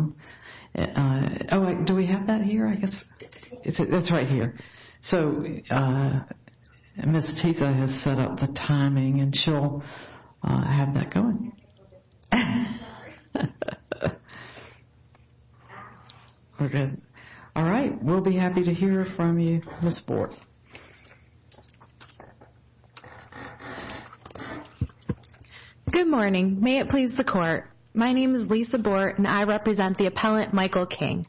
LISA BORT, FLORIDA DEPARTMENT OF CORRECTIONS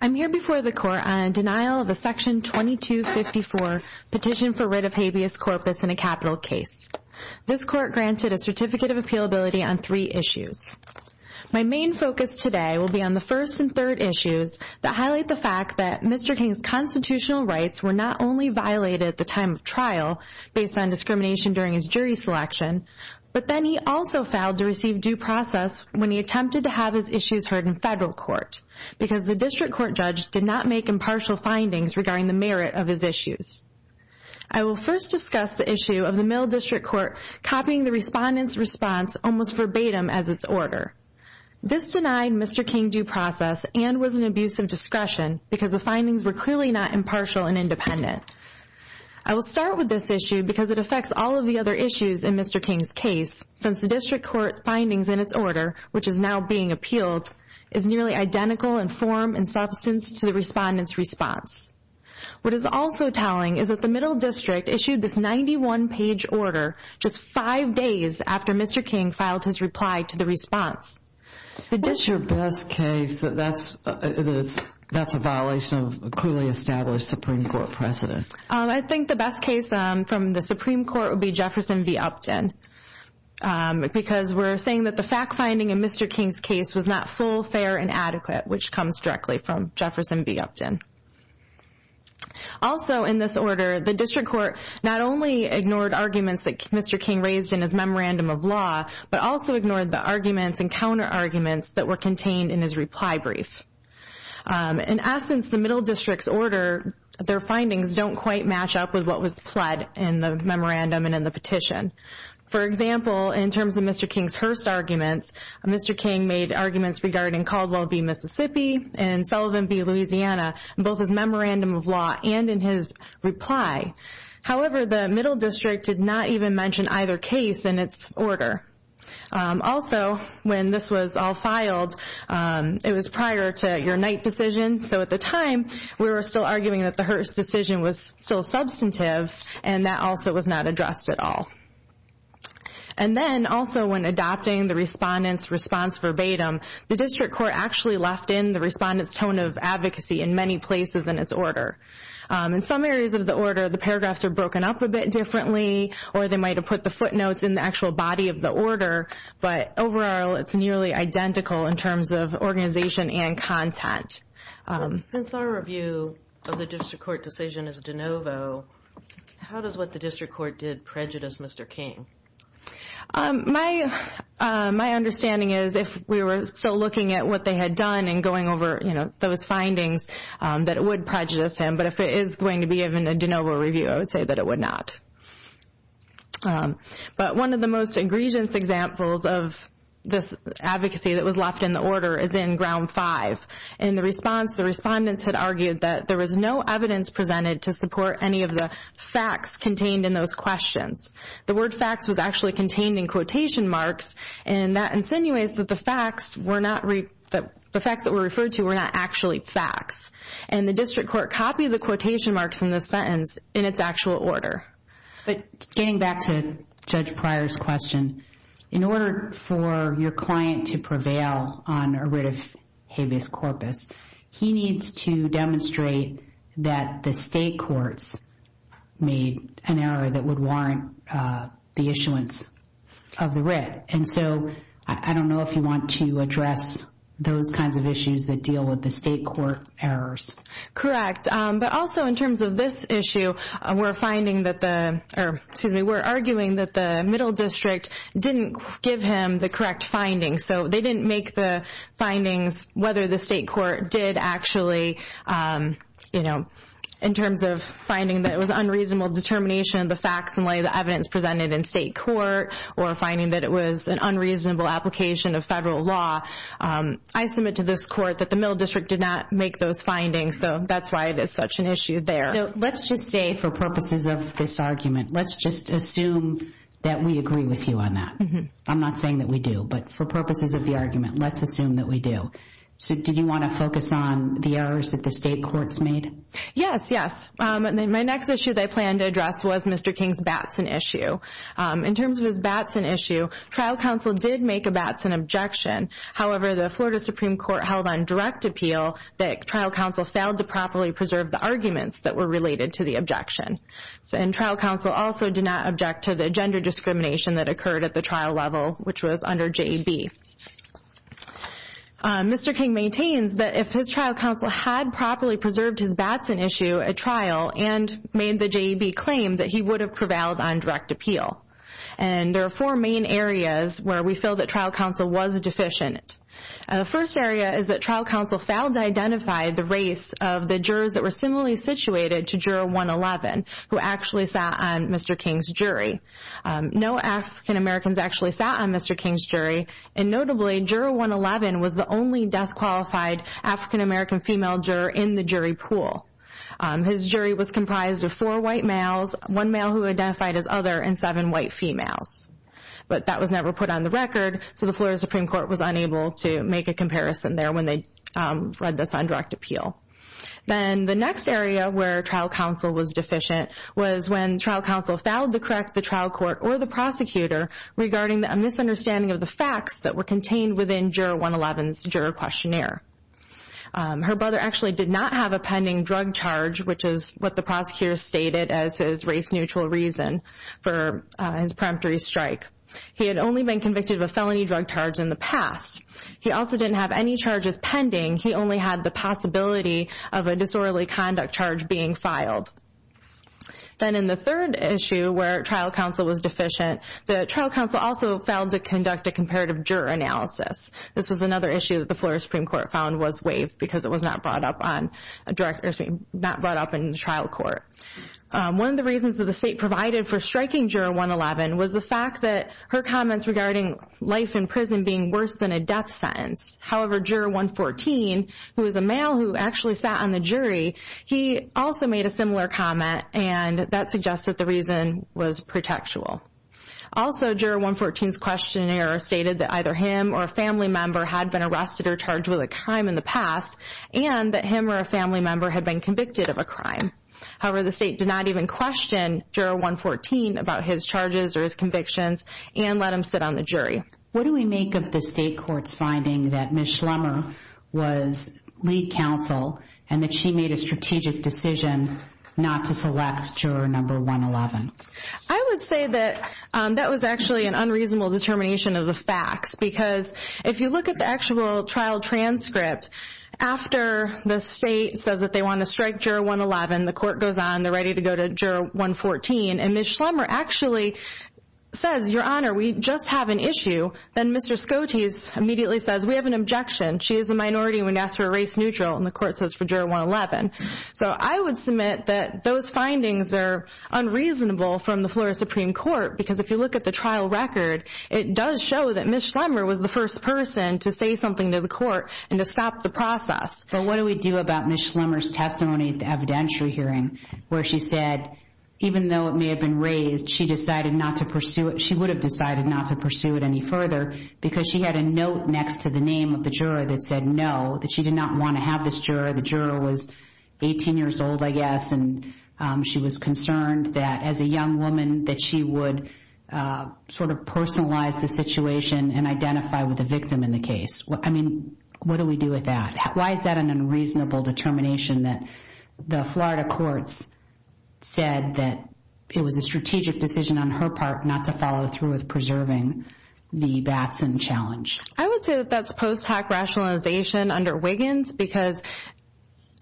I'm here before the court on a denial of the Section 2254 petition for writ of habeas corpus in a capital case. This court granted a certificate of appealability on three issues. My main focus today will be on the first and third issues that highlight the fact that Mr. King's constitutional rights were not only violated at the time of trial, based on discrimination during his jury selection, but then he also failed to receive due process when he attempted to have his issues heard in federal court because the district court judge did not make impartial findings regarding the merit of his issues. I will first discuss the issue of the Mill District Court copying the respondent's response almost verbatim as its order. This denied Mr. King due process and was an abuse of discretion because the findings were clearly not impartial and independent. I will start with this issue because it affects all of the other issues in Mr. King's case since the district court findings in its order, which is now being appealed, is nearly identical in form and substance to the respondent's response. What is also telling is that the Middle District issued this 91-page order just five days after Mr. King filed his reply to the response. What's your best case that's a violation of a clearly established Supreme Court precedent? I think the best case from the Supreme Court would be Jefferson v. Upton because we're saying that the fact-finding in Mr. King's case was not full, fair, and adequate, which comes directly from Jefferson v. Upton. Also in this order, the district court not only ignored arguments that Mr. King raised in his memorandum of law, but also ignored the arguments and counter-arguments that were contained in his reply brief. In essence, the Middle District's order, their findings don't quite match up with what was pled in the memorandum and in the petition. For example, in terms of Mr. King's Hearst arguments, Mr. King made arguments regarding Caldwell v. Mississippi and Sullivan v. Louisiana in both his memorandum of law and in his reply. However, the Middle District did not even mention either case in its order. Also, when this was all filed, it was prior to your Knight decision, so at the time, we were still arguing that the Hearst decision was still substantive and that also was not addressed at all. And then, also when adopting the respondent's response verbatim, the district court actually left in the respondent's tone of advocacy in many places in its order. In some areas of the order, the paragraphs are broken up a bit differently or they might have put the footnotes in the actual body of the order, but overall, it's nearly identical in terms of organization and content. Since our review of the district court decision is de novo, how does what the district court did prejudice Mr. King? My understanding is if we were still looking at what they had done and going over those findings, that it would prejudice him, but if it is going to be given a de novo review, I would say that it would not. But one of the most egregious examples of this advocacy that was left in the order is in Ground 5. In the response, the respondents had argued that there was no evidence presented to support any of the facts contained in those questions. The word facts was actually contained in quotation marks and that insinuates that the facts that were referred to were not actually facts. And the district court copied the quotation marks in this sentence in its actual order. Getting back to Judge Pryor's question, in order for your client to prevail on a writ of habeas corpus, he needs to demonstrate that the state courts made an error that would warrant the issuance of the writ. And so, I don't know if you want to address those kinds of issues that deal with the state court errors. Correct. But also, in terms of this issue, we're arguing that the middle district didn't give him the correct findings. So, they didn't make the findings whether the state court did actually, you know, in terms of finding that it was unreasonable determination of the facts and lay the evidence presented in state court or finding that it was an unreasonable application of federal law. I submit to this court that the middle district did not make those findings, so that's why it is such an issue there. So, let's just say for purposes of this argument, let's just assume that we agree with you on that. I'm not saying that we do, but for purposes of the argument, let's assume that we do. So, did you want to focus on the errors that the state courts made? Yes, yes. My next issue that I plan to address was Mr. King's Batson issue. In terms of his Batson issue, trial counsel did make a Batson objection. However, the Florida Supreme Court held on direct appeal that trial counsel failed to properly preserve the arguments that were related to the objection. And trial counsel also did not object to the gender discrimination that occurred at the trial level, which was under JEB. Mr. King maintains that if his trial counsel had properly preserved his Batson issue at trial and made the JEB claim that he would have prevailed on direct appeal. And there are four main areas where we feel that trial counsel was deficient. The first area is that trial counsel failed to identify the race of the jurors that were similarly situated to juror 111, who actually sat on Mr. King's jury. No African-Americans actually sat on Mr. King's jury, and notably, juror 111 was the only death-qualified African-American female juror in the jury pool. His jury was comprised of four white males, one male who identified as other, and seven white females. But that was never put on the record, so the Florida Supreme Court was unable to make a comparison there when they read this on direct appeal. Then the next area where trial counsel was deficient was when trial counsel failed to correct the trial court or the prosecutor regarding a misunderstanding of the facts that were contained within juror 111's juror questionnaire. Her brother actually did not have a pending drug charge, which is what the prosecutor stated as his race-neutral reason for his preemptory strike. He had only been convicted of a felony drug charge in the past. He also didn't have any charges pending. He only had the possibility of a disorderly conduct charge being filed. Then in the third issue where trial counsel was deficient, the trial counsel also failed to conduct a comparative juror analysis. This was another issue that the Florida Supreme Court found was waived because it was not brought up in the trial court. One of the reasons that the state provided for striking juror 111 was the fact that her comments regarding life in prison being worse than a death sentence. However, juror 114, who is a male who actually sat on the jury, he also made a similar comment, and that suggests that the reason was protectual. Also, juror 114's questionnaire stated that either him or a family member had been arrested or charged with a crime in the past, and that him or a family member had been convicted of a crime. However, the state did not even question juror 114 about his charges or his convictions and let him sit on the jury. What do we make of the state court's finding that Ms. Schlemmer was lead counsel and that she made a strategic decision not to select juror 111? I would say that that was actually an unreasonable determination of the facts. Because if you look at the actual trial transcript, after the state says that they want to strike juror 111, the court goes on, they're ready to go to juror 114, and Ms. Schlemmer actually says, Your Honor, we just have an issue, then Mr. Scotese immediately says, we have an objection. She is a minority, we're going to ask for a race neutral, and the court says for juror 111. So I would submit that those findings are unreasonable from the Florida Supreme Court, because if you look at the trial record, it does show that Ms. Schlemmer was the first person to say something to the court and to stop the process. So what do we do about Ms. Schlemmer's testimony at the evidentiary hearing, where she said, even though it may have been raised, she decided not to pursue it, she would have decided not to pursue it any further, because she had a note next to the name of the juror that said no, that she did not want to have this juror, the juror was 18 years old, I guess, and she was concerned that as a young woman, that she would sort of personalize the situation and identify with the victim in the case. I mean, what do we do with that? Why is that an unreasonable determination that the Florida courts said that it was a strategic decision on her part not to follow through with preserving the Batson challenge? I would say that that's post-hack rationalization under Wiggins, because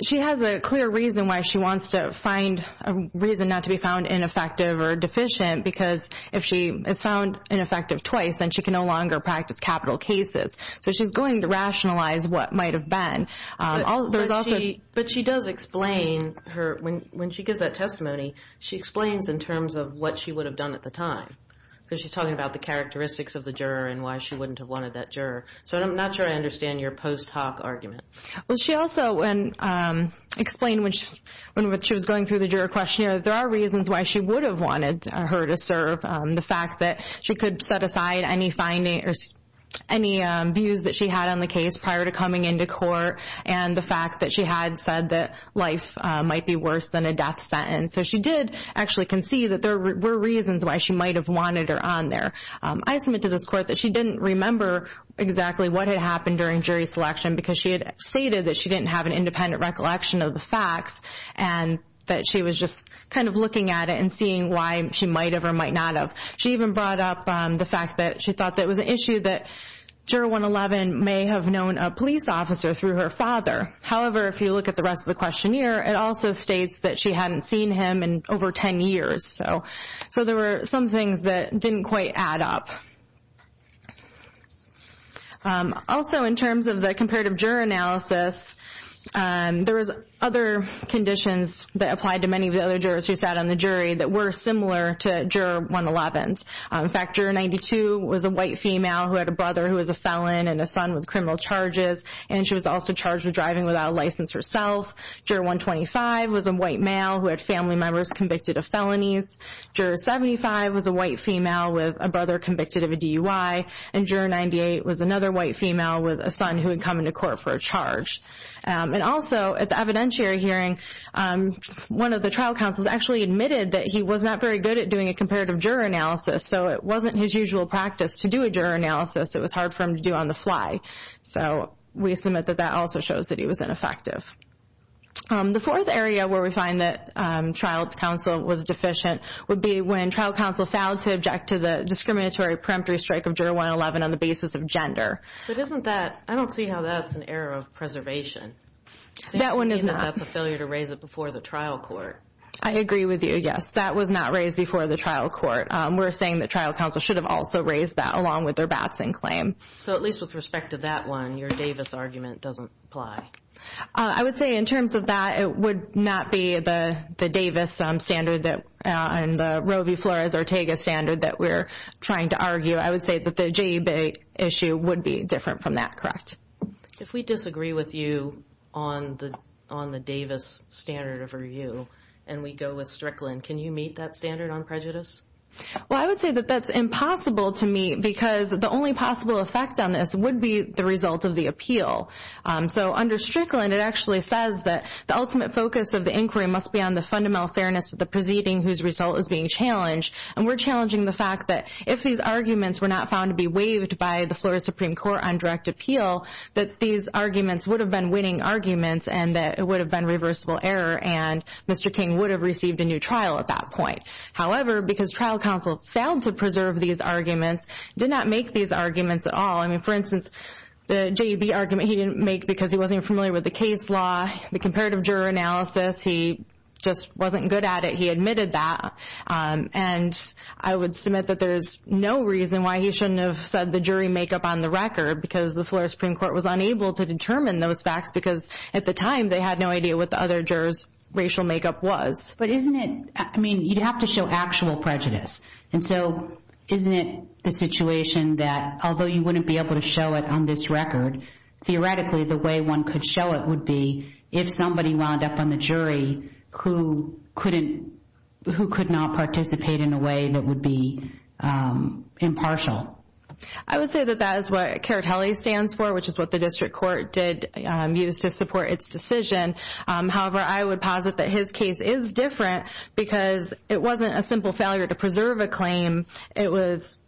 she has a clear reason why she wants to find a reason not to be found ineffective or deficient, because if she is found ineffective twice, then she can no longer practice capital cases. So she's going to rationalize what might have been. But she does explain her, when she gives that testimony, she explains in terms of what she would have done at the time, because she's talking about the characteristics of the juror and why she wouldn't have wanted that juror. So I'm not sure I understand your post-hoc argument. Well, she also explained when she was going through the juror questionnaire, there are reasons why she would have wanted her to serve, the fact that she could set aside any views that she had on the case prior to coming into court, and the fact that she had said that life might be worse than a death sentence. And so she did actually concede that there were reasons why she might have wanted her on there. I submit to this court that she didn't remember exactly what had happened during jury selection, because she had stated that she didn't have an independent recollection of the facts and that she was just kind of looking at it and seeing why she might have or might not have. She even brought up the fact that she thought that it was an issue that Juror 111 may have known a police officer through her father. However, if you look at the rest of the questionnaire, it also states that she hadn't seen him in over 10 years. So there were some things that didn't quite add up. Also, in terms of the comparative juror analysis, there was other conditions that applied to many of the other jurors who sat on the jury that were similar to Juror 111's. In fact, Juror 92 was a white female who had a brother who was a felon and a son with criminal charges, and she was also charged with driving without a license herself. Juror 125 was a white male who had family members convicted of felonies. Juror 75 was a white female with a brother convicted of a DUI. And Juror 98 was another white female with a son who had come into court for a charge. And also, at the evidentiary hearing, one of the trial counsels actually admitted that he was not very good at doing a comparative juror analysis, so it wasn't his usual practice to do a juror analysis. It was hard for him to do on the fly. So we submit that that also shows that he was ineffective. The fourth area where we find that trial counsel was deficient would be when trial counsel failed to object to the discriminatory preemptory strike of Juror 111 on the basis of gender. But isn't that – I don't see how that's an error of preservation. That one is not. That's a failure to raise it before the trial court. I agree with you, yes. That was not raised before the trial court. We're saying that trial counsel should have also raised that along with their Batson claim. So at least with respect to that one, your Davis argument doesn't apply. I would say in terms of that, it would not be the Davis standard and the Roe v. Flores-Ortega standard that we're trying to argue. I would say that the JEB issue would be different from that, correct? If we disagree with you on the Davis standard of review and we go with Strickland, can you meet that standard on prejudice? Well, I would say that that's impossible to meet because the only possible effect on this would be the result of the appeal. So under Strickland, it actually says that the ultimate focus of the inquiry must be on the fundamental fairness of the proceeding whose result is being challenged. And we're challenging the fact that if these arguments were not found to be waived by the Flores Supreme Court on direct appeal, that these arguments would have been winning arguments and that it would have been reversible error and Mr. King would have received a new trial at that point. However, because trial counsel failed to preserve these arguments, did not make these arguments at all. I mean, for instance, the JEB argument he didn't make because he wasn't familiar with the case law, the comparative juror analysis. He just wasn't good at it. He admitted that. And I would submit that there's no reason why he shouldn't have said the jury makeup on the record because the Flores Supreme Court was unable to determine those facts because at the time they had no idea what the other jurors racial makeup was. But isn't it, I mean, you'd have to show actual prejudice. And so isn't it the situation that although you wouldn't be able to show it on this record, theoretically the way one could show it would be if somebody wound up on the jury who couldn't, who could not participate in a way that would be impartial. I would say that that is what CARITELLI stands for, which is what the district court did use to support its decision. However, I would posit that his case is different because it wasn't a simple failure to preserve a claim. It was,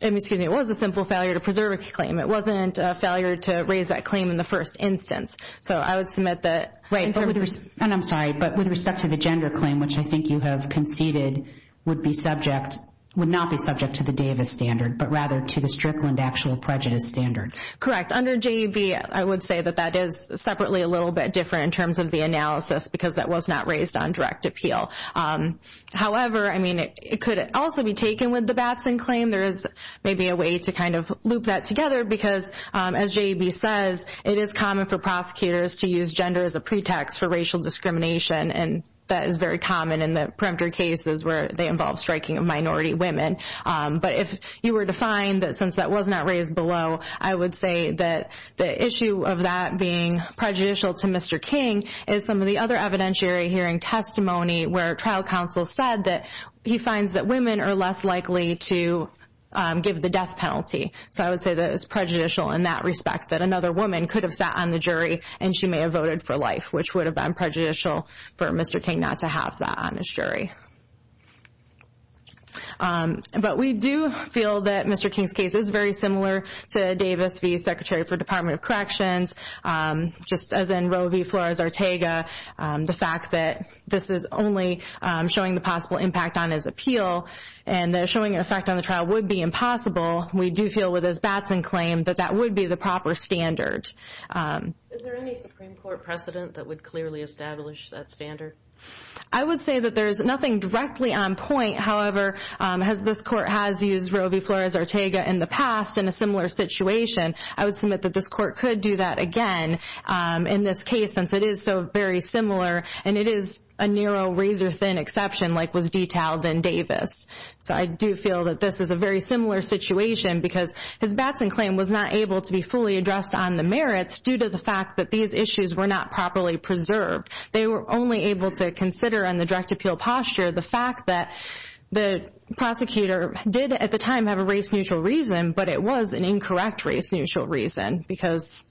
excuse me, it was a simple failure to preserve a claim. It wasn't a failure to raise that claim in the first instance. So I would submit that. And I'm sorry, but with respect to the gender claim, which I think you have conceded would be subject, would not be subject to the Davis standard, but rather to the Strickland actual prejudice standard. Correct. Under JEB, I would say that that is separately a little bit different in terms of the analysis because that was not raised on direct appeal. However, I mean, it could also be taken with the Batson claim. There is maybe a way to kind of loop that together because, as JEB says, it is common for prosecutors to use gender as a pretext for racial discrimination, and that is very common in the preemptor cases where they involve striking of minority women. But if you were to find that since that was not raised below, I would say that the issue of that being prejudicial to Mr. King is some of the other evidentiary hearing testimony where trial counsel said that he finds that women are less likely to give the death penalty. So I would say that it's prejudicial in that respect, that another woman could have sat on the jury and she may have voted for life, which would have been prejudicial for Mr. King not to have that on his jury. But we do feel that Mr. King's case is very similar to Davis v. Secretary for Department of Corrections, just as in Roe v. Flores-Ortega, the fact that this is only showing the possible impact on his appeal and the showing effect on the trial would be impossible. We do feel with his Batson claim that that would be the proper standard. Is there any Supreme Court precedent that would clearly establish that standard? I would say that there is nothing directly on point. However, as this court has used Roe v. Flores-Ortega in the past in a similar situation, I would submit that this court could do that again in this case since it is so very similar, and it is a narrow, razor-thin exception like was detailed in Davis. So I do feel that this is a very similar situation because his Batson claim was not able to be fully addressed on the merits due to the fact that these issues were not properly preserved. They were only able to consider on the direct appeal posture the fact that the prosecutor did at the time have a race-neutral reason, but it was an incorrect race-neutral reason because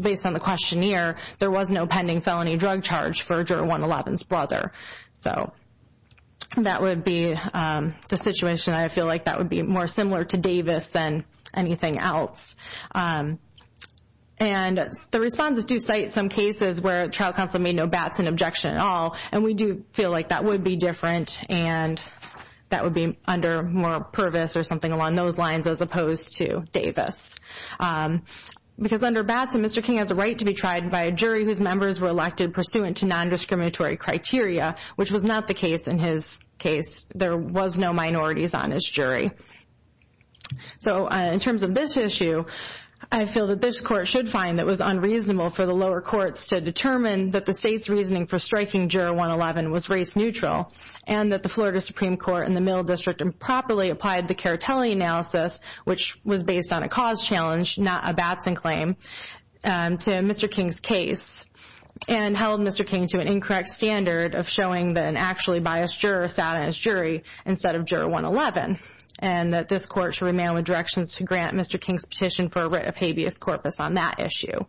based on the questionnaire, there was no pending felony drug charge for Jury 111's brother. So that would be the situation. I feel like that would be more similar to Davis than anything else. And the responses do cite some cases where trial counsel made no Batson objection at all, and we do feel like that would be different and that would be under moral purpose or something along those lines as opposed to Davis. Because under Batson, Mr. King has a right to be tried by a jury whose members were elected pursuant to non-discriminatory criteria, which was not the case in his case. There was no minorities on his jury. So in terms of this issue, I feel that this Court should find that it was unreasonable for the lower courts to determine that the state's reasoning for striking Juror 111 was race-neutral and that the Florida Supreme Court and the Middle District improperly applied the Caritelli analysis, which was based on a cause challenge, not a Batson claim, to Mr. King's case. And held Mr. King to an incorrect standard of showing that an actually biased juror sat on his jury instead of Juror 111, and that this Court should remain with directions to grant Mr. King's petition for a writ of habeas corpus on that issue.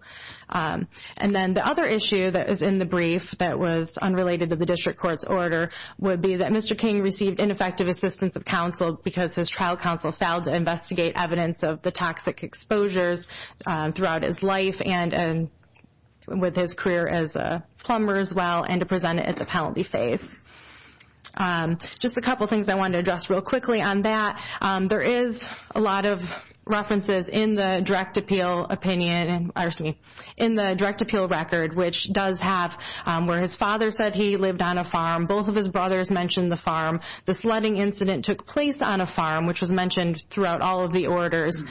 And then the other issue that is in the brief that was unrelated to the District Court's order would be that Mr. King received ineffective assistance of counsel because his trial counsel failed to investigate evidence of the toxic exposures throughout his life and with his career as a plumber as well, and to present it at the penalty phase. Just a couple of things I wanted to address real quickly on that. There is a lot of references in the direct appeal opinion, or excuse me, in the direct appeal record, which does have where his father said he lived on a farm, both of his brothers mentioned the farm, the sledding incident took place on a farm, which was mentioned throughout all of the orders.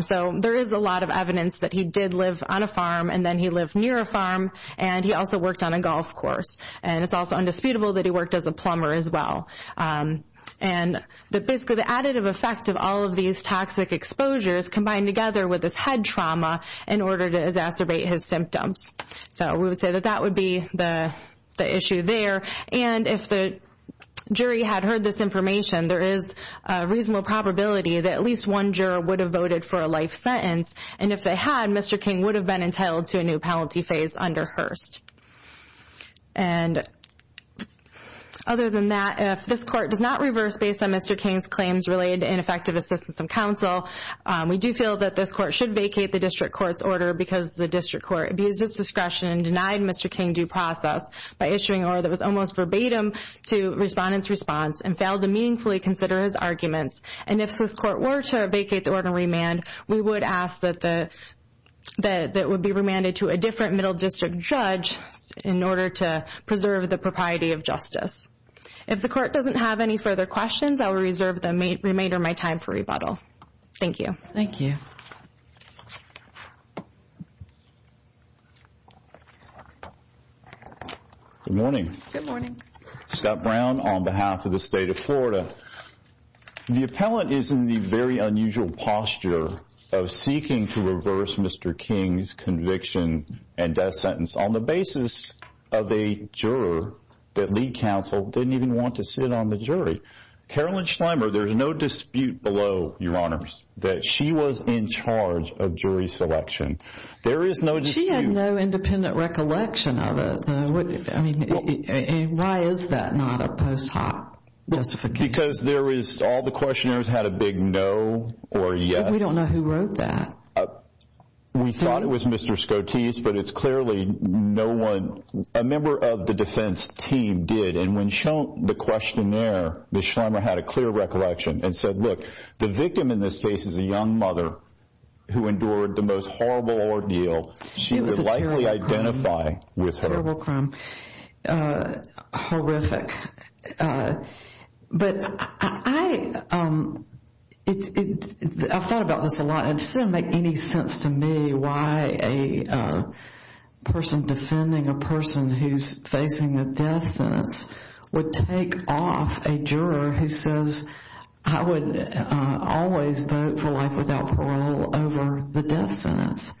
So there is a lot of evidence that he did live on a farm, and then he lived near a farm, and he also worked on a golf course. And it's also indisputable that he worked as a plumber as well. And basically the additive effect of all of these toxic exposures combined together with his head trauma in order to exacerbate his symptoms. So we would say that that would be the issue there. And if the jury had heard this information, there is a reasonable probability that at least one juror would have voted for a life sentence. And if they had, Mr. King would have been entitled to a new penalty phase under Hearst. And other than that, if this court does not reverse based on Mr. King's claims related to ineffective assistance of counsel, we do feel that this court should vacate the district court's order because the district court abused its discretion and denied Mr. King due process by issuing order that was almost verbatim to respondents' response and failed to meaningfully consider his arguments. And if this court were to vacate the order and remand, we would ask that it would be remanded to a different middle district judge in order to preserve the propriety of justice. If the court doesn't have any further questions, I will reserve the remainder of my time for rebuttal. Thank you. Thank you. Good morning. Good morning. Scott Brown on behalf of the state of Florida. The appellant is in the very unusual posture of seeking to reverse Mr. King's conviction and death sentence on the basis of a juror that lead counsel didn't even want to sit on the jury. Carolyn Schleimer, there's no dispute below, Your Honors, that she was in charge of jury selection. There is no dispute. She had no independent recollection of it. I mean, why is that not a post hoc justification? Because all the questionnaires had a big no or yes. We don't know who wrote that. We thought it was Mr. Scotese, but it's clearly no one. A member of the defense team did. And when shown the questionnaire, Ms. Schleimer had a clear recollection and said, look, the victim in this case is a young mother who endured the most horrible ordeal she would likely identify with her. Terrible crime. Horrific. But I thought about this a lot. It doesn't make any sense to me why a person defending a person who's facing a death sentence would take off a juror who says, I would always vote for life without parole over the death sentence.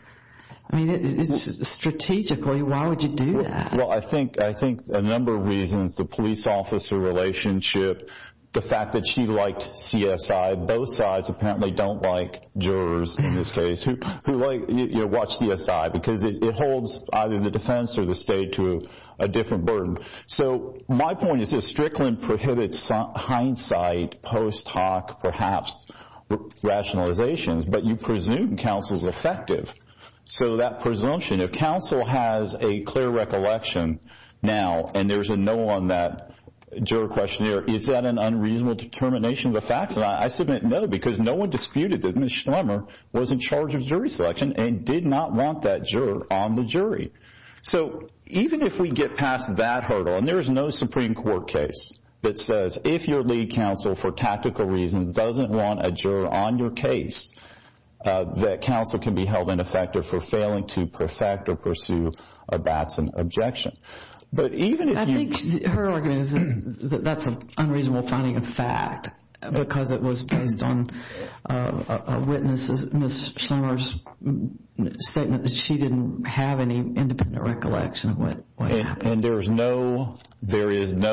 I mean, strategically, why would you do that? Well, I think a number of reasons. The police officer relationship, the fact that she liked CSI. Both sides apparently don't like jurors in this case who watch CSI because it holds either the defense or the state to a different burden. So my point is this. Strickland prohibited hindsight, post hoc perhaps rationalizations, but you presume counsel's effective. So that presumption, if counsel has a clear recollection now and there's a no on that juror questionnaire, is that an unreasonable determination of the facts? And I submit no because no one disputed that Ms. Schleimer was in charge of jury selection and did not want that juror on the jury. So even if we get past that hurdle, and there is no Supreme Court case that says if your lead counsel for tactical reasons doesn't want a juror on your case, that counsel can be held ineffective for failing to perfect or pursue a Batson objection. I think her argument is that that's an unreasonable finding of fact because it was based on a witness, Ms. Schleimer's statement, that she didn't have any independent recollection of what happened. And there is no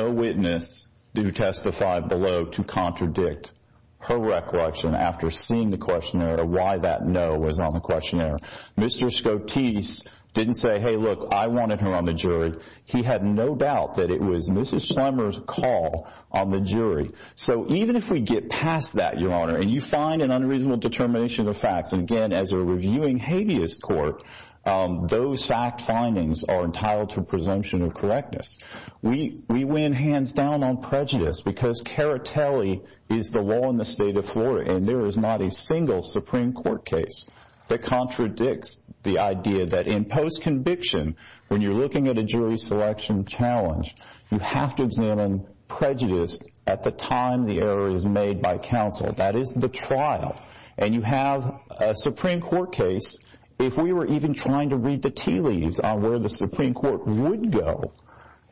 witness to testify below to contradict her recollection after seeing the questionnaire or why that no was on the questionnaire. Mr. Scotese didn't say, hey, look, I wanted her on the jury. He had no doubt that it was Ms. Schleimer's call on the jury. So even if we get past that, Your Honor, and you find an unreasonable determination of facts, and again, as a reviewing habeas court, those fact findings are entitled to presumption of correctness. We win hands down on prejudice because caritelli is the law in the state of Florida, and there is not a single Supreme Court case that contradicts the idea that in post-conviction, when you're looking at a jury selection challenge, you have to examine prejudice at the time the error is made by counsel. That is the trial, and you have a Supreme Court case. If we were even trying to read the tea leaves on where the Supreme Court would go,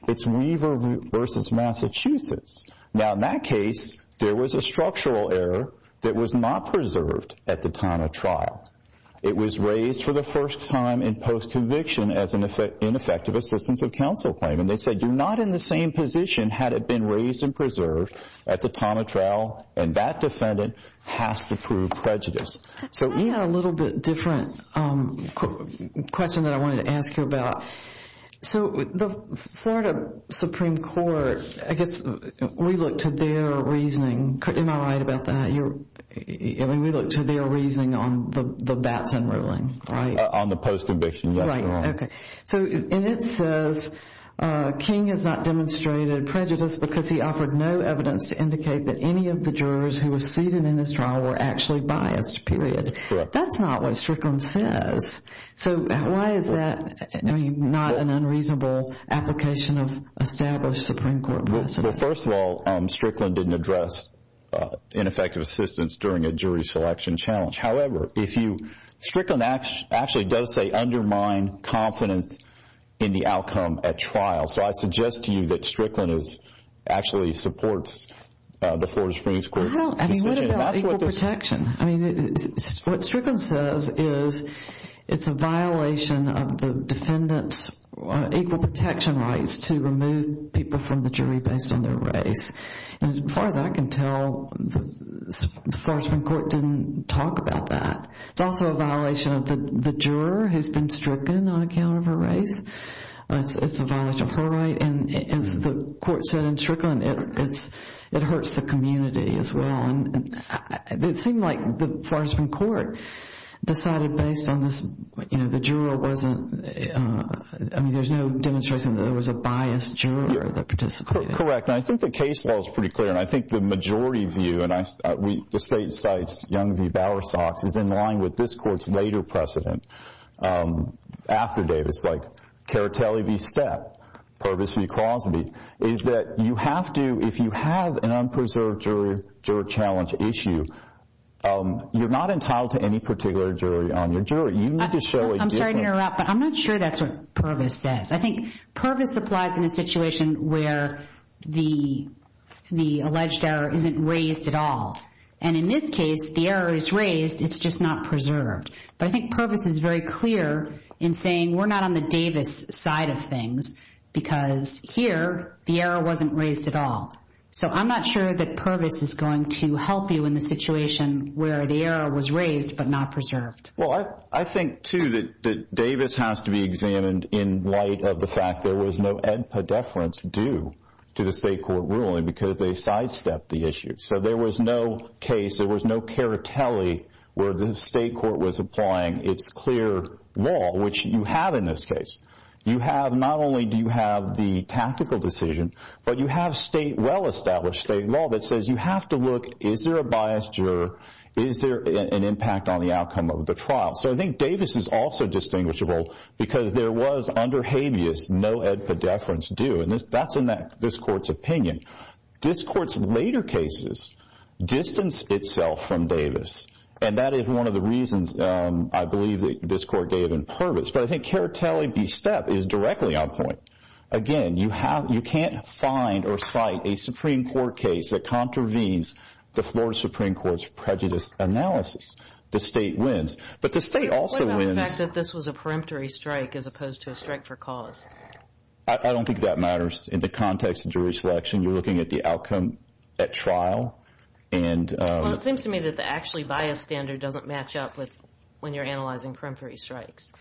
it's Weaver v. Massachusetts. Now, in that case, there was a structural error that was not preserved at the time of trial. It was raised for the first time in post-conviction as an ineffective assistance of counsel claim, and they said you're not in the same position had it been raised and preserved at the time of trial, and that defendant has to prove prejudice. So we have a little bit different question that I wanted to ask you about. So the Florida Supreme Court, I guess we look to their reasoning. Am I right about that? I mean, we look to their reasoning on the Batson ruling, right? On the post-conviction. Right, okay. And it says King has not demonstrated prejudice because he offered no evidence to indicate that any of the jurors who were seated in this trial were actually biased, period. That's not what Strickland says. So why is that not an unreasonable application of established Supreme Court precedent? Well, first of all, Strickland didn't address ineffective assistance during a jury selection challenge. However, Strickland actually does say undermine confidence in the outcome at trial. So I suggest to you that Strickland actually supports the Florida Supreme Court. What about equal protection? I mean, what Strickland says is it's a violation of the defendant's equal protection rights to remove people from the jury based on their race. As far as I can tell, the Florida Supreme Court didn't talk about that. It's also a violation of the juror who's been stricken on account of her race. It's a violation of her right. And as the court said in Strickland, it hurts the community as well. It seemed like the Florida Supreme Court decided based on this, you know, the juror wasn't, I mean, there's no demonstration that there was a biased juror that participated. Correct. And I think the case law is pretty clear. And I think the majority view, and the state cites Young v. Bowersox, is in line with this court's later precedent after Davis, like Caritelli v. Stett, Purvis v. Crosby, is that you have to, if you have an unpreserved jury challenge issue, you're not entitled to any particular jury on your jury. You need to show a different... I'm sorry to interrupt, but I'm not sure that's what Purvis says. I think Purvis applies in a situation where the alleged error isn't raised at all. And in this case, the error is raised, it's just not preserved. But I think Purvis is very clear in saying we're not on the Davis side of things because here the error wasn't raised at all. So I'm not sure that Purvis is going to help you in the situation where the error was raised but not preserved. Well, I think, too, that Davis has to be examined in light of the fact there was no ed pedeference due to the state court ruling because they sidestepped the issue. So there was no case, there was no Caritelli where the state court was applying its clear law, which you have in this case. You have, not only do you have the tactical decision, but you have state, well-established state law that says you have to look, is there a biased juror, is there an impact on the outcome of the trial? So I think Davis is also distinguishable because there was, under habeas, no ed pedeference due, and that's in this court's opinion. This court's later cases distance itself from Davis, and that is one of the reasons I believe that this court gave in Purvis. But I think Caritelli v. Stepp is directly on point. Again, you can't find or cite a Supreme Court case that contravenes the Florida Supreme Court's prejudice analysis. The state wins, but the state also wins. What about the fact that this was a peremptory strike as opposed to a strike for cause? I don't think that matters in the context of jury selection. You're looking at the outcome at trial. Well, it seems to me that the actually biased standard doesn't match up when you're analyzing peremptory strikes.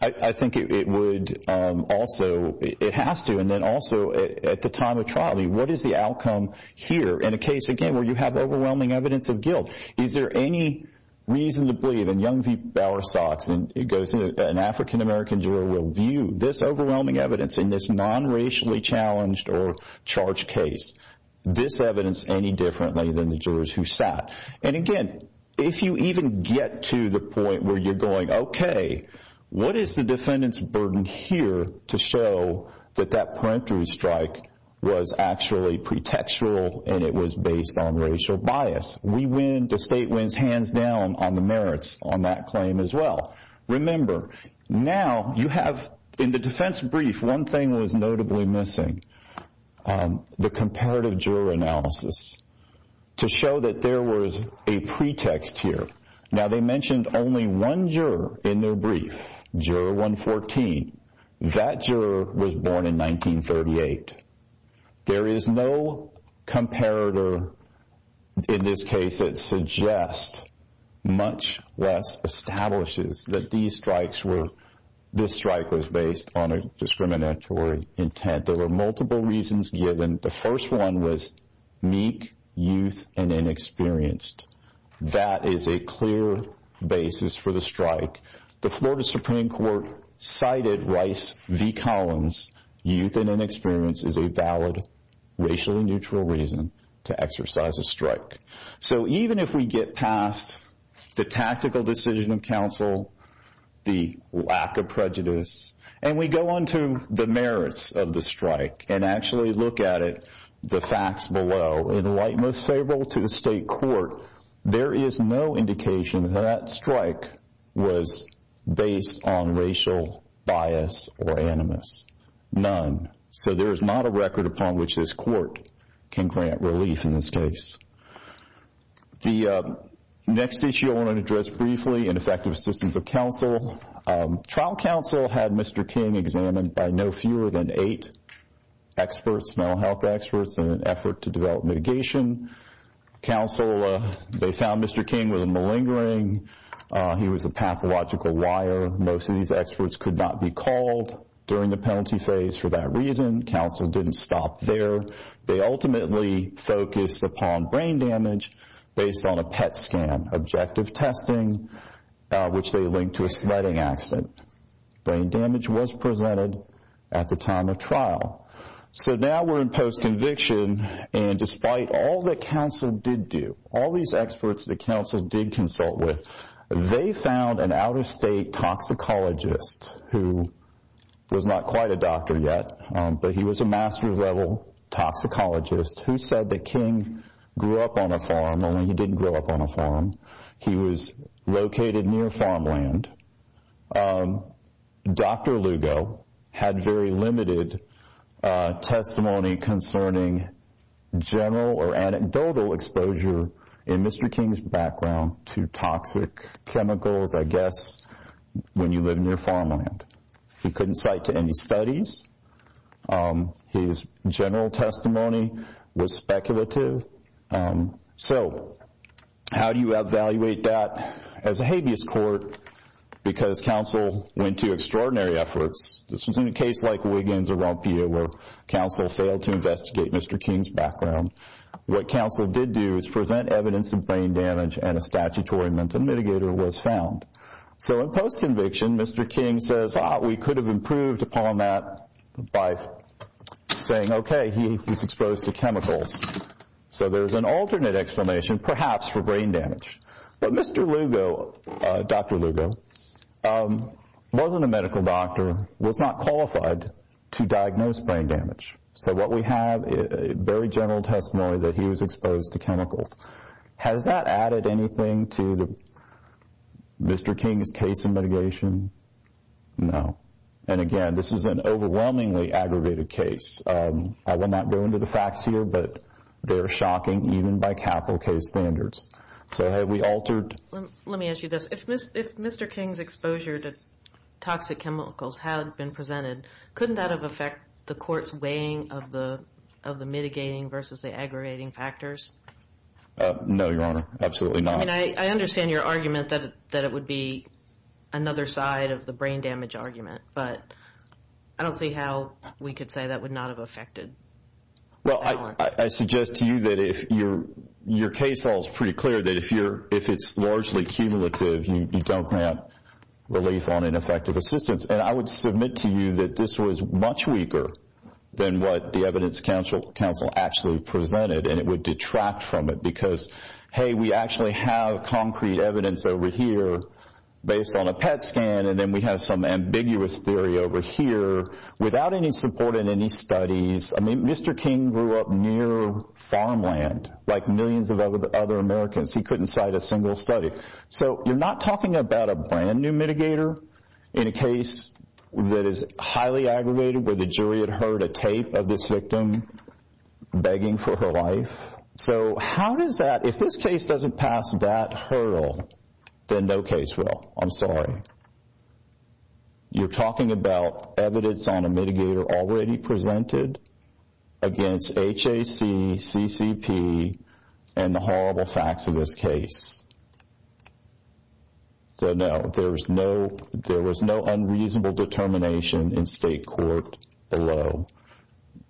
I think it would also, it has to, and then also at the time of trial, what is the outcome here in a case, again, where you have overwhelming evidence of guilt? Is there any reason to believe, and Young v. Bowersox, and it goes in that an African-American juror will view this overwhelming evidence in this nonracially challenged or charged case, this evidence any differently than the jurors who sat. And again, if you even get to the point where you're going, okay, what is the defendant's burden here to show that that peremptory strike was actually pretextual and it was based on racial bias? We win, the state wins hands down on the merits on that claim as well. Remember, now you have, in the defense brief, one thing that was notably missing, the comparative juror analysis to show that there was a pretext here. Now, they mentioned only one juror in their brief, juror 114. That juror was born in 1938. There is no comparator in this case that suggests, much less establishes, that these strikes were, this strike was based on a discriminatory intent. There were multiple reasons given. The first one was meek, youth, and inexperienced. That is a clear basis for the strike. The Florida Supreme Court cited Rice v. Collins. Youth and inexperience is a valid racially neutral reason to exercise a strike. So even if we get past the tactical decision of counsel, the lack of prejudice, and we go on to the merits of the strike and actually look at it, the facts below, in light most favorable to the state court, there is no indication that that strike was based on racial bias or animus. None. So there is not a record upon which this court can grant relief in this case. The next issue I want to address briefly, ineffective assistance of counsel. Trial counsel had Mr. King examined by no fewer than eight experts, mental health experts, in an effort to develop mitigation counsel. They found Mr. King was a malingering. He was a pathological liar. Most of these experts could not be called during the penalty phase for that reason. Counsel didn't stop there. They ultimately focused upon brain damage based on a PET scan objective testing, which they linked to a sledding accident. Brain damage was presented at the time of trial. So now we're in postconviction, and despite all that counsel did do, all these experts that counsel did consult with, they found an out-of-state toxicologist who was not quite a doctor yet, but he was a master's level toxicologist who said that King grew up on a farm, only he didn't grow up on a farm. He was located near farmland. Dr. Lugo had very limited testimony concerning general or anecdotal exposure in Mr. King's background to toxic chemicals, I guess, when you live near farmland. He couldn't cite to any studies. His general testimony was speculative. So how do you evaluate that as a habeas court? Because counsel went to extraordinary efforts. This was in a case like Wiggins or Rompia where counsel failed to investigate Mr. King's background. What counsel did do was present evidence of brain damage and a statutory mental mitigator was found. So in postconviction, Mr. King says, we thought we could have improved upon that by saying, okay, he was exposed to chemicals. So there's an alternate explanation, perhaps for brain damage. But Mr. Lugo, Dr. Lugo, wasn't a medical doctor, was not qualified to diagnose brain damage. So what we have is very general testimony that he was exposed to chemicals. Has that added anything to Mr. King's case in mitigation? No. And again, this is an overwhelmingly aggravated case. I will not go into the facts here, but they are shocking even by capital case standards. So have we altered? Let me ask you this. If Mr. King's exposure to toxic chemicals had been presented, couldn't that have affected the court's weighing of the mitigating versus the aggravating factors? No, Your Honor. Absolutely not. I understand your argument that it would be another side of the brain damage argument, but I don't see how we could say that would not have affected balance. Well, I suggest to you that if your case all is pretty clear, that if it's largely cumulative, you don't grant relief on ineffective assistance. And I would submit to you that this was much weaker than what the Evidence Council actually presented, and it would detract from it because, hey, we actually have concrete evidence over here based on a PET scan, and then we have some ambiguous theory over here without any support in any studies. I mean, Mr. King grew up near farmland like millions of other Americans. He couldn't cite a single study. So you're not talking about a brand-new mitigator in a case that is highly aggregated where the jury had heard a tape of this victim begging for her life. So how does that, if this case doesn't pass that hurdle, then no case will. I'm sorry. You're talking about evidence on a mitigator already presented against HAC, CCP, and the horrible facts of this case. So, no, there was no unreasonable determination in state court below.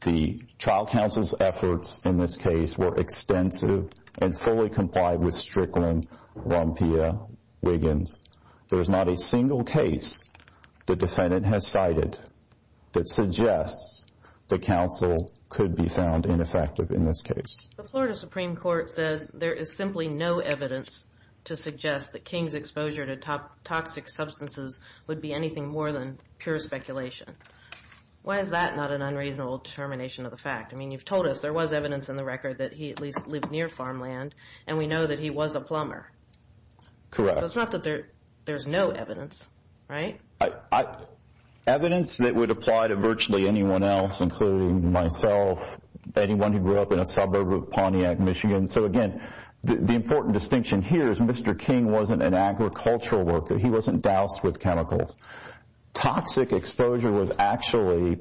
The trial counsel's efforts in this case were extensive and fully complied with Strickland, Rompia, Wiggins. There's not a single case the defendant has cited that suggests the counsel could be found ineffective in this case. The Florida Supreme Court said there is simply no evidence to suggest that King's exposure to toxic substances would be anything more than pure speculation. Why is that not an unreasonable determination of the fact? I mean, you've told us there was evidence in the record that he at least lived near farmland, and we know that he was a plumber. Correct. But it's not that there's no evidence, right? Evidence that would apply to virtually anyone else, including myself, anyone who grew up in a suburb of Pontiac, Michigan. So, again, the important distinction here is Mr. King wasn't an agricultural worker. He wasn't doused with chemicals. Toxic exposure was actually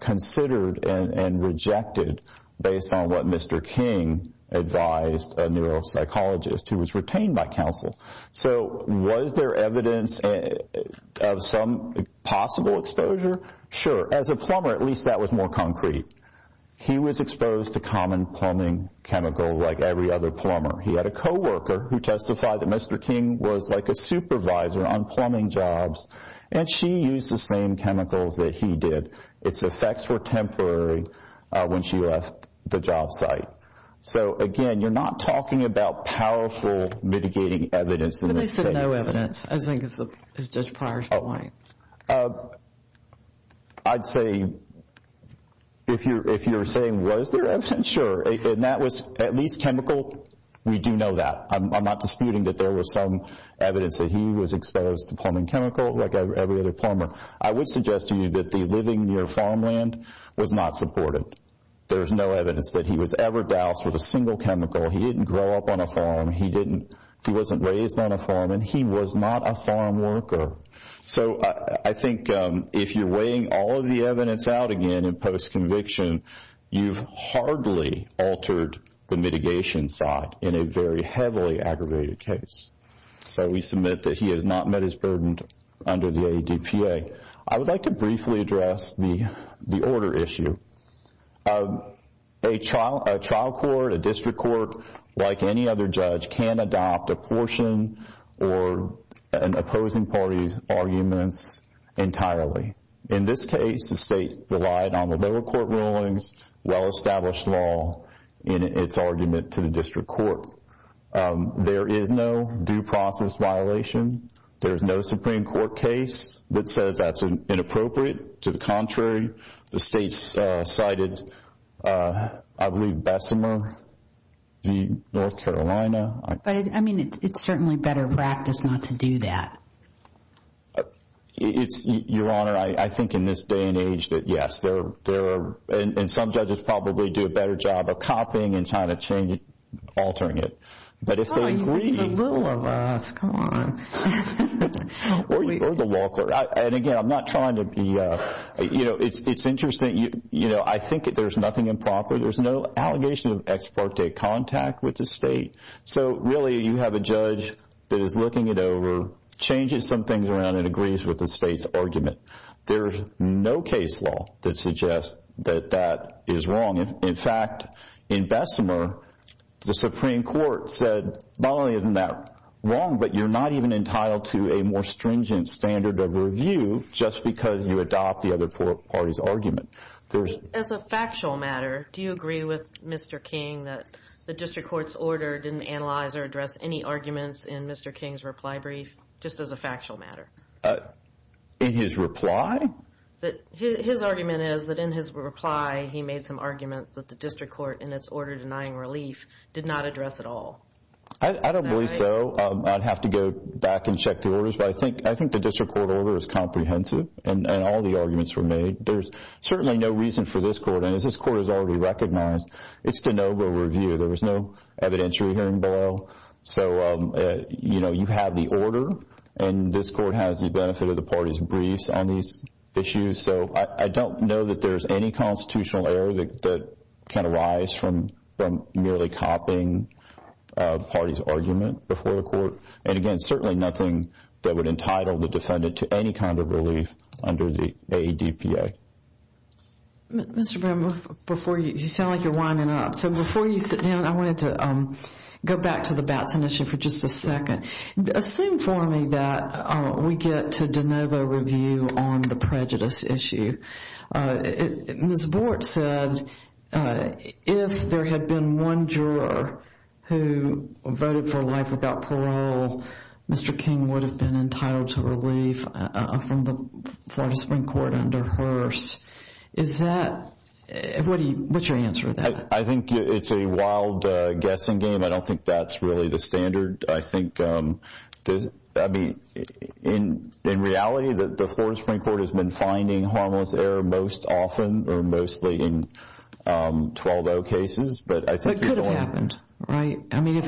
considered and rejected based on what Mr. King advised a neuropsychologist who was retained by counsel. So was there evidence of some possible exposure? Sure. As a plumber, at least that was more concrete. He was exposed to common plumbing chemicals like every other plumber. He had a co-worker who testified that Mr. King was like a supervisor on plumbing jobs, and she used the same chemicals that he did. Its effects were temporary when she left the job site. So, again, you're not talking about powerful mitigating evidence in this case. But they said no evidence. I think it's Judge Pryor's point. I'd say if you're saying was there evidence, sure. And that was at least chemical. We do know that. I'm not disputing that there was some evidence that he was exposed to plumbing chemicals like every other plumber. I would suggest to you that the living near farmland was not supported. There's no evidence that he was ever doused with a single chemical. He didn't grow up on a farm. He wasn't raised on a farm, and he was not a farm worker. So I think if you're weighing all of the evidence out again in post-conviction, you've hardly altered the mitigation side in a very heavily aggravated case. So we submit that he has not met his burden under the ADPA. I would like to briefly address the order issue. A trial court, a district court, like any other judge, can adopt a portion or an opposing party's arguments entirely. In this case, the state relied on the lower court rulings, well-established law in its argument to the district court. There is no due process violation. There is no Supreme Court case that says that's inappropriate. To the contrary, the state cited, I believe, Bessemer v. North Carolina. But, I mean, it's certainly better practice not to do that. Your Honor, I think in this day and age that, yes, there are, and some judges probably do a better job of copying and trying to change it, altering it. But if they agree, or the law court, and, again, I'm not trying to be, you know, it's interesting. You know, I think that there's nothing improper. There's no allegation of ex parte contact with the state. So, really, you have a judge that is looking it over, changes some things around and agrees with the state's argument. There's no case law that suggests that that is wrong. In fact, in Bessemer, the Supreme Court said not only isn't that wrong, but you're not even entitled to a more stringent standard of review just because you adopt the other party's argument. As a factual matter, do you agree with Mr. King that the district court's order didn't analyze or address any arguments in Mr. King's reply brief, just as a factual matter? In his reply? His argument is that in his reply he made some arguments that the district court, in its order denying relief, did not address at all. I don't believe so. I'd have to go back and check the orders. But I think the district court order is comprehensive, and all the arguments were made. There's certainly no reason for this court, and as this court has already recognized, it's de novo review. There was no evidentiary hearing below. So, you know, you have the order, and this court has the benefit of the party's briefs on these issues. So I don't know that there's any constitutional error that can arise from merely copying a party's argument before the court. And, again, certainly nothing that would entitle the defendant to any kind of relief under the ADPA. Mr. Brown, before you, you sound like you're winding up. So before you sit down, I wanted to go back to the Batson issue for just a second. Assume for me that we get to de novo review on the prejudice issue. Ms. Bort said if there had been one juror who voted for life without parole, Mr. King would have been entitled to relief from the Florida Supreme Court under Hearst. Is that—what's your answer to that? I think it's a wild guessing game. I don't think that's really the standard. I think—I mean, in reality, the Florida Supreme Court has been finding harmless error most often or mostly in 12-0 cases. But it could have happened, right? I mean,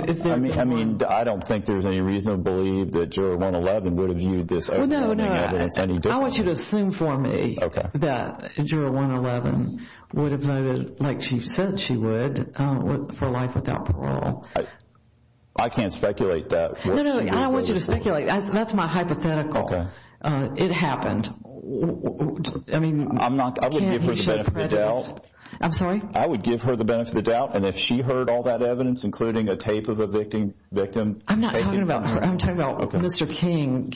I don't think there's any reason to believe that juror 111 would have viewed this— I want you to assume for me that juror 111 would have voted like she said she would for life without parole. I can't speculate that. No, no, I don't want you to speculate. That's my hypothetical. It happened. I mean— I'm not—I wouldn't give her the benefit of the doubt. I'm sorry? I would give her the benefit of the doubt, and if she heard all that evidence, including a tape of a victim— I'm not talking about her. I'm talking about Mr. King.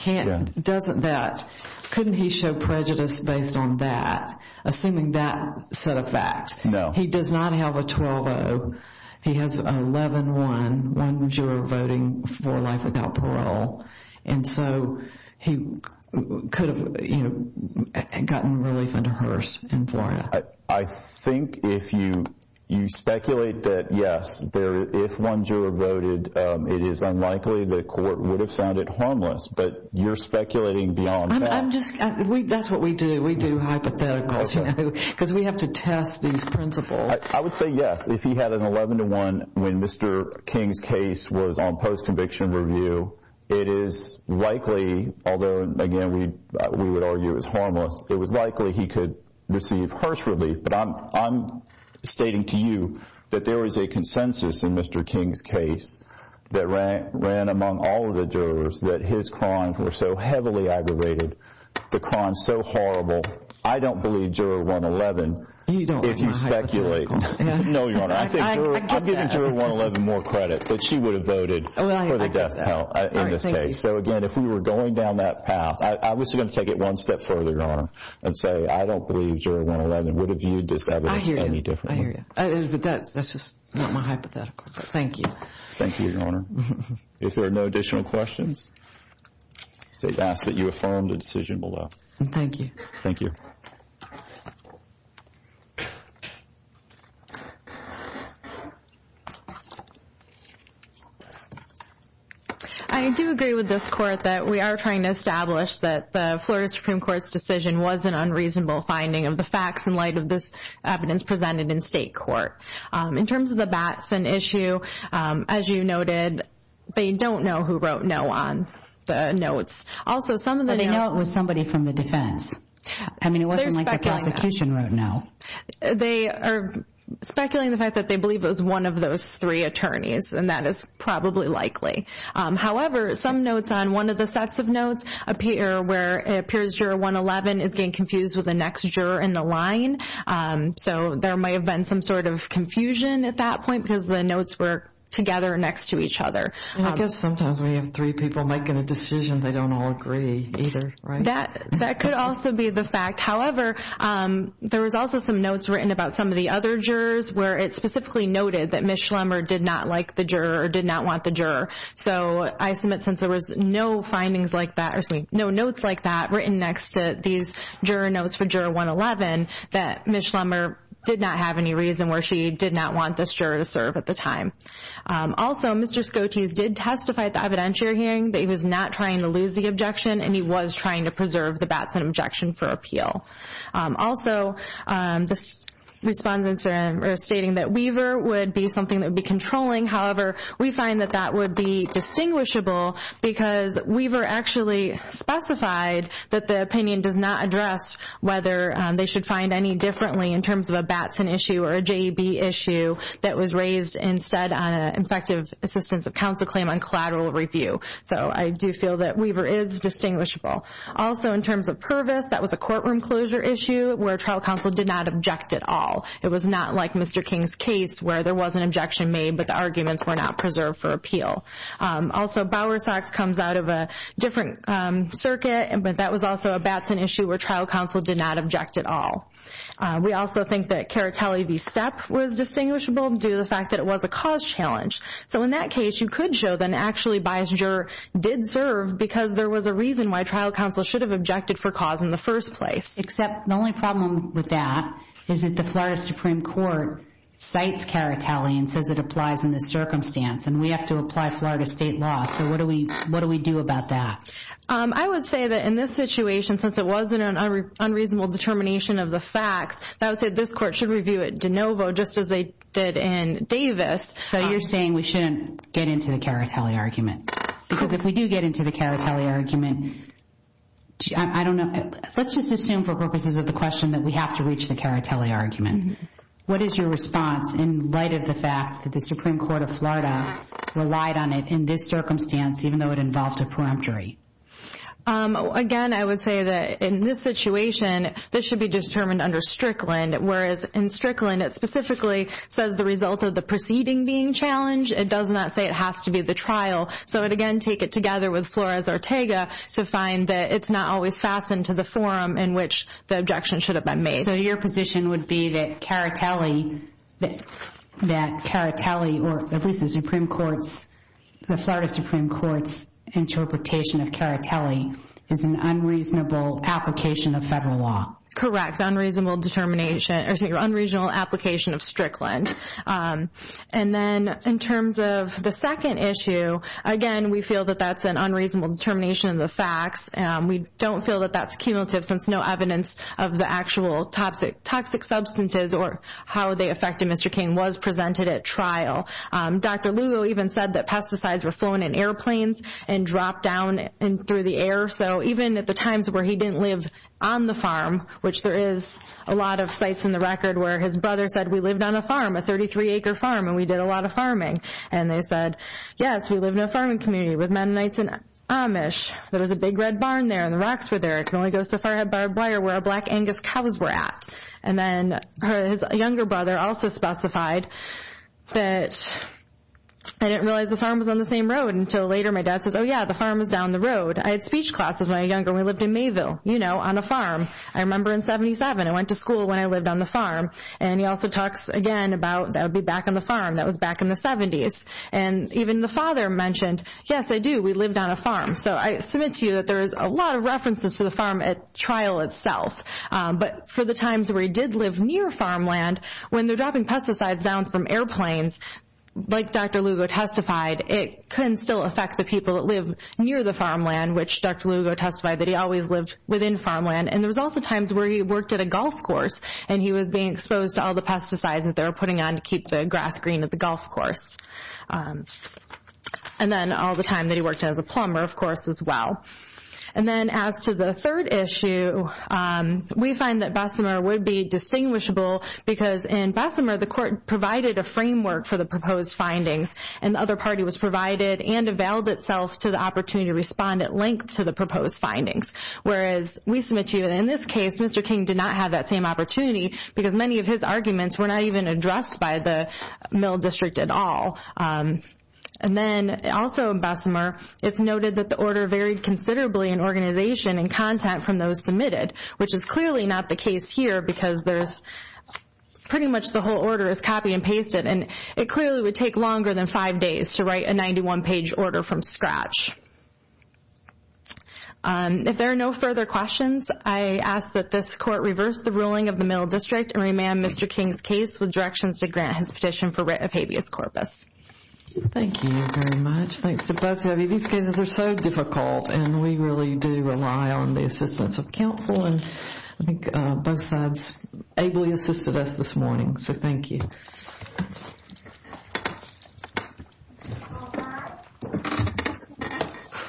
Doesn't that—couldn't he show prejudice based on that, assuming that set of facts? No. He does not have a 12-0. He has 11-1, one juror voting for life without parole. And so he could have gotten relief under Hearst in Florida. I think if you speculate that, yes, if one juror voted, it is unlikely the court would have found it harmless. But you're speculating beyond that. I'm just—that's what we do. We do hypotheticals, you know, because we have to test these principles. I would say yes. If he had an 11-1 when Mr. King's case was on post-conviction review, it is likely— but I'm stating to you that there is a consensus in Mr. King's case that ran among all of the jurors, that his crimes were so heavily aggravated, the crime so horrible, I don't believe juror 111 if you speculate. No, Your Honor. I think juror—I'm giving juror 111 more credit that she would have voted for the death penalty in this case. So, again, if we were going down that path—I was going to take it one step further, Your Honor, and say I don't believe juror 111 would have viewed this evidence any differently. I hear you. I hear you. But that's just not my hypothetical. Thank you. Thank you, Your Honor. If there are no additional questions, I ask that you affirm the decision below. Thank you. Thank you. I do agree with this court that we are trying to establish that the Florida Supreme Court's decision was an unreasonable finding of the facts in light of this evidence presented in state court. In terms of the Batson issue, as you noted, they don't know who wrote no on the notes. Also, some of the— I know it was somebody from the defense. I mean, it wasn't like the prosecution wrote no. They are speculating the fact that they believe it was one of those three attorneys, and that is probably likely. However, some notes on one of the sets of notes appear where it appears juror 111 is getting confused with the next juror in the line. So there might have been some sort of confusion at that point because the notes were together next to each other. I guess sometimes when you have three people making a decision, they don't all agree either, right? That could also be the fact. However, there was also some notes written about some of the other jurors where it specifically noted that Ms. Schlemmer did not like the juror or did not want the juror. So I submit since there was no findings like that—or excuse me, no notes like that written next to these juror notes for juror 111, that Ms. Schlemmer did not have any reason where she did not want this juror to serve at the time. Also, Mr. Scotese did testify at the evidentiary hearing that he was not trying to lose the objection and he was trying to preserve the Batson objection for appeal. Also, the respondents are stating that Weaver would be something that would be controlling. However, we find that that would be distinguishable because Weaver actually specified that the opinion does not address whether they should find any differently in terms of a Batson issue or a JEB issue that was raised instead on an Infective Assistance of Counsel claim on collateral review. So I do feel that Weaver is distinguishable. Also, in terms of Purvis, that was a courtroom closure issue where trial counsel did not object at all. It was not like Mr. King's case where there was an objection made but the arguments were not preserved for appeal. Also, Bowersox comes out of a different circuit, but that was also a Batson issue where trial counsel did not object at all. We also think that Caritelli v. Stepp was distinguishable due to the fact that it was a cause challenge. So in that case, you could show that actually a Batson juror did serve because there was a reason why trial counsel should have objected for cause in the first place. Except the only problem with that is that the Florida Supreme Court cites Caritelli and says it applies in this circumstance, and we have to apply Florida state law. So what do we do about that? I would say that in this situation, since it wasn't an unreasonable determination of the facts, I would say this court should review it de novo just as they did in Davis. So you're saying we shouldn't get into the Caritelli argument? Because if we do get into the Caritelli argument, I don't know. Let's just assume for purposes of the question that we have to reach the Caritelli argument. What is your response in light of the fact that the Supreme Court of Florida relied on it in this circumstance even though it involved a peremptory? Again, I would say that in this situation, this should be determined under Strickland, whereas in Strickland, it specifically says the result of the proceeding being challenged. It does not say it has to be the trial. So again, take it together with Flores-Ortega to find that it's not always fastened to the forum in which the objection should have been made. So your position would be that Caritelli or at least the Supreme Court's, the Florida Supreme Court's interpretation of Caritelli is an unreasonable application of federal law? Correct, unreasonable determination or unreasonable application of Strickland. And then in terms of the second issue, again, we feel that that's an unreasonable determination of the facts. We don't feel that that's cumulative since no evidence of the actual toxic substances or how they affected Mr. King was presented at trial. Dr. Lugo even said that pesticides were flown in airplanes and dropped down through the air. So even at the times where he didn't live on the farm, which there is a lot of sites in the record where his brother said, we lived on a farm, a 33-acre farm, and we did a lot of farming. And they said, yes, we lived in a farming community with Mennonites and Amish. There was a big red barn there and the rocks were there. It can only go so far by where black Angus cows were at. And then his younger brother also specified that I didn't realize the farm was on the same road until later my dad says, oh, yeah, the farm was down the road. I had speech classes when I was younger. We lived in Mayville, you know, on a farm. I remember in 77, I went to school when I lived on the farm. And he also talks again about that would be back on the farm. That was back in the 70s. And even the father mentioned, yes, I do, we lived on a farm. So I submit to you that there is a lot of references to the farm at trial itself. But for the times where he did live near farmland, when they're dropping pesticides down from airplanes, like Dr. Lugo testified, it can still affect the people that live near the farmland, which Dr. Lugo testified that he always lived within farmland. And there was also times where he worked at a golf course and he was being exposed to all the pesticides that they were putting on to keep the grass green at the golf course. And then all the time that he worked as a plumber, of course, as well. And then as to the third issue, we find that Bessemer would be distinguishable because in Bessemer the court provided a framework for the proposed findings and the other party was provided and availed itself to the opportunity to respond at length to the proposed findings, whereas we submit to you that in this case Mr. King did not have that same opportunity because many of his arguments were not even addressed by the Mill District at all. And then also in Bessemer it's noted that the order varied considerably in organization and content from those submitted, which is clearly not the case here because pretty much the whole order is copy and pasted. And it clearly would take longer than five days to write a 91-page order from scratch. If there are no further questions, I ask that this court reverse the ruling of the Mill District and remand Mr. King's case with directions to grant his petition for writ of habeas corpus. Thank you very much. Thanks to both of you. These cases are so difficult and we really do rely on the assistance of counsel and I think both sides ably assisted us this morning, so thank you.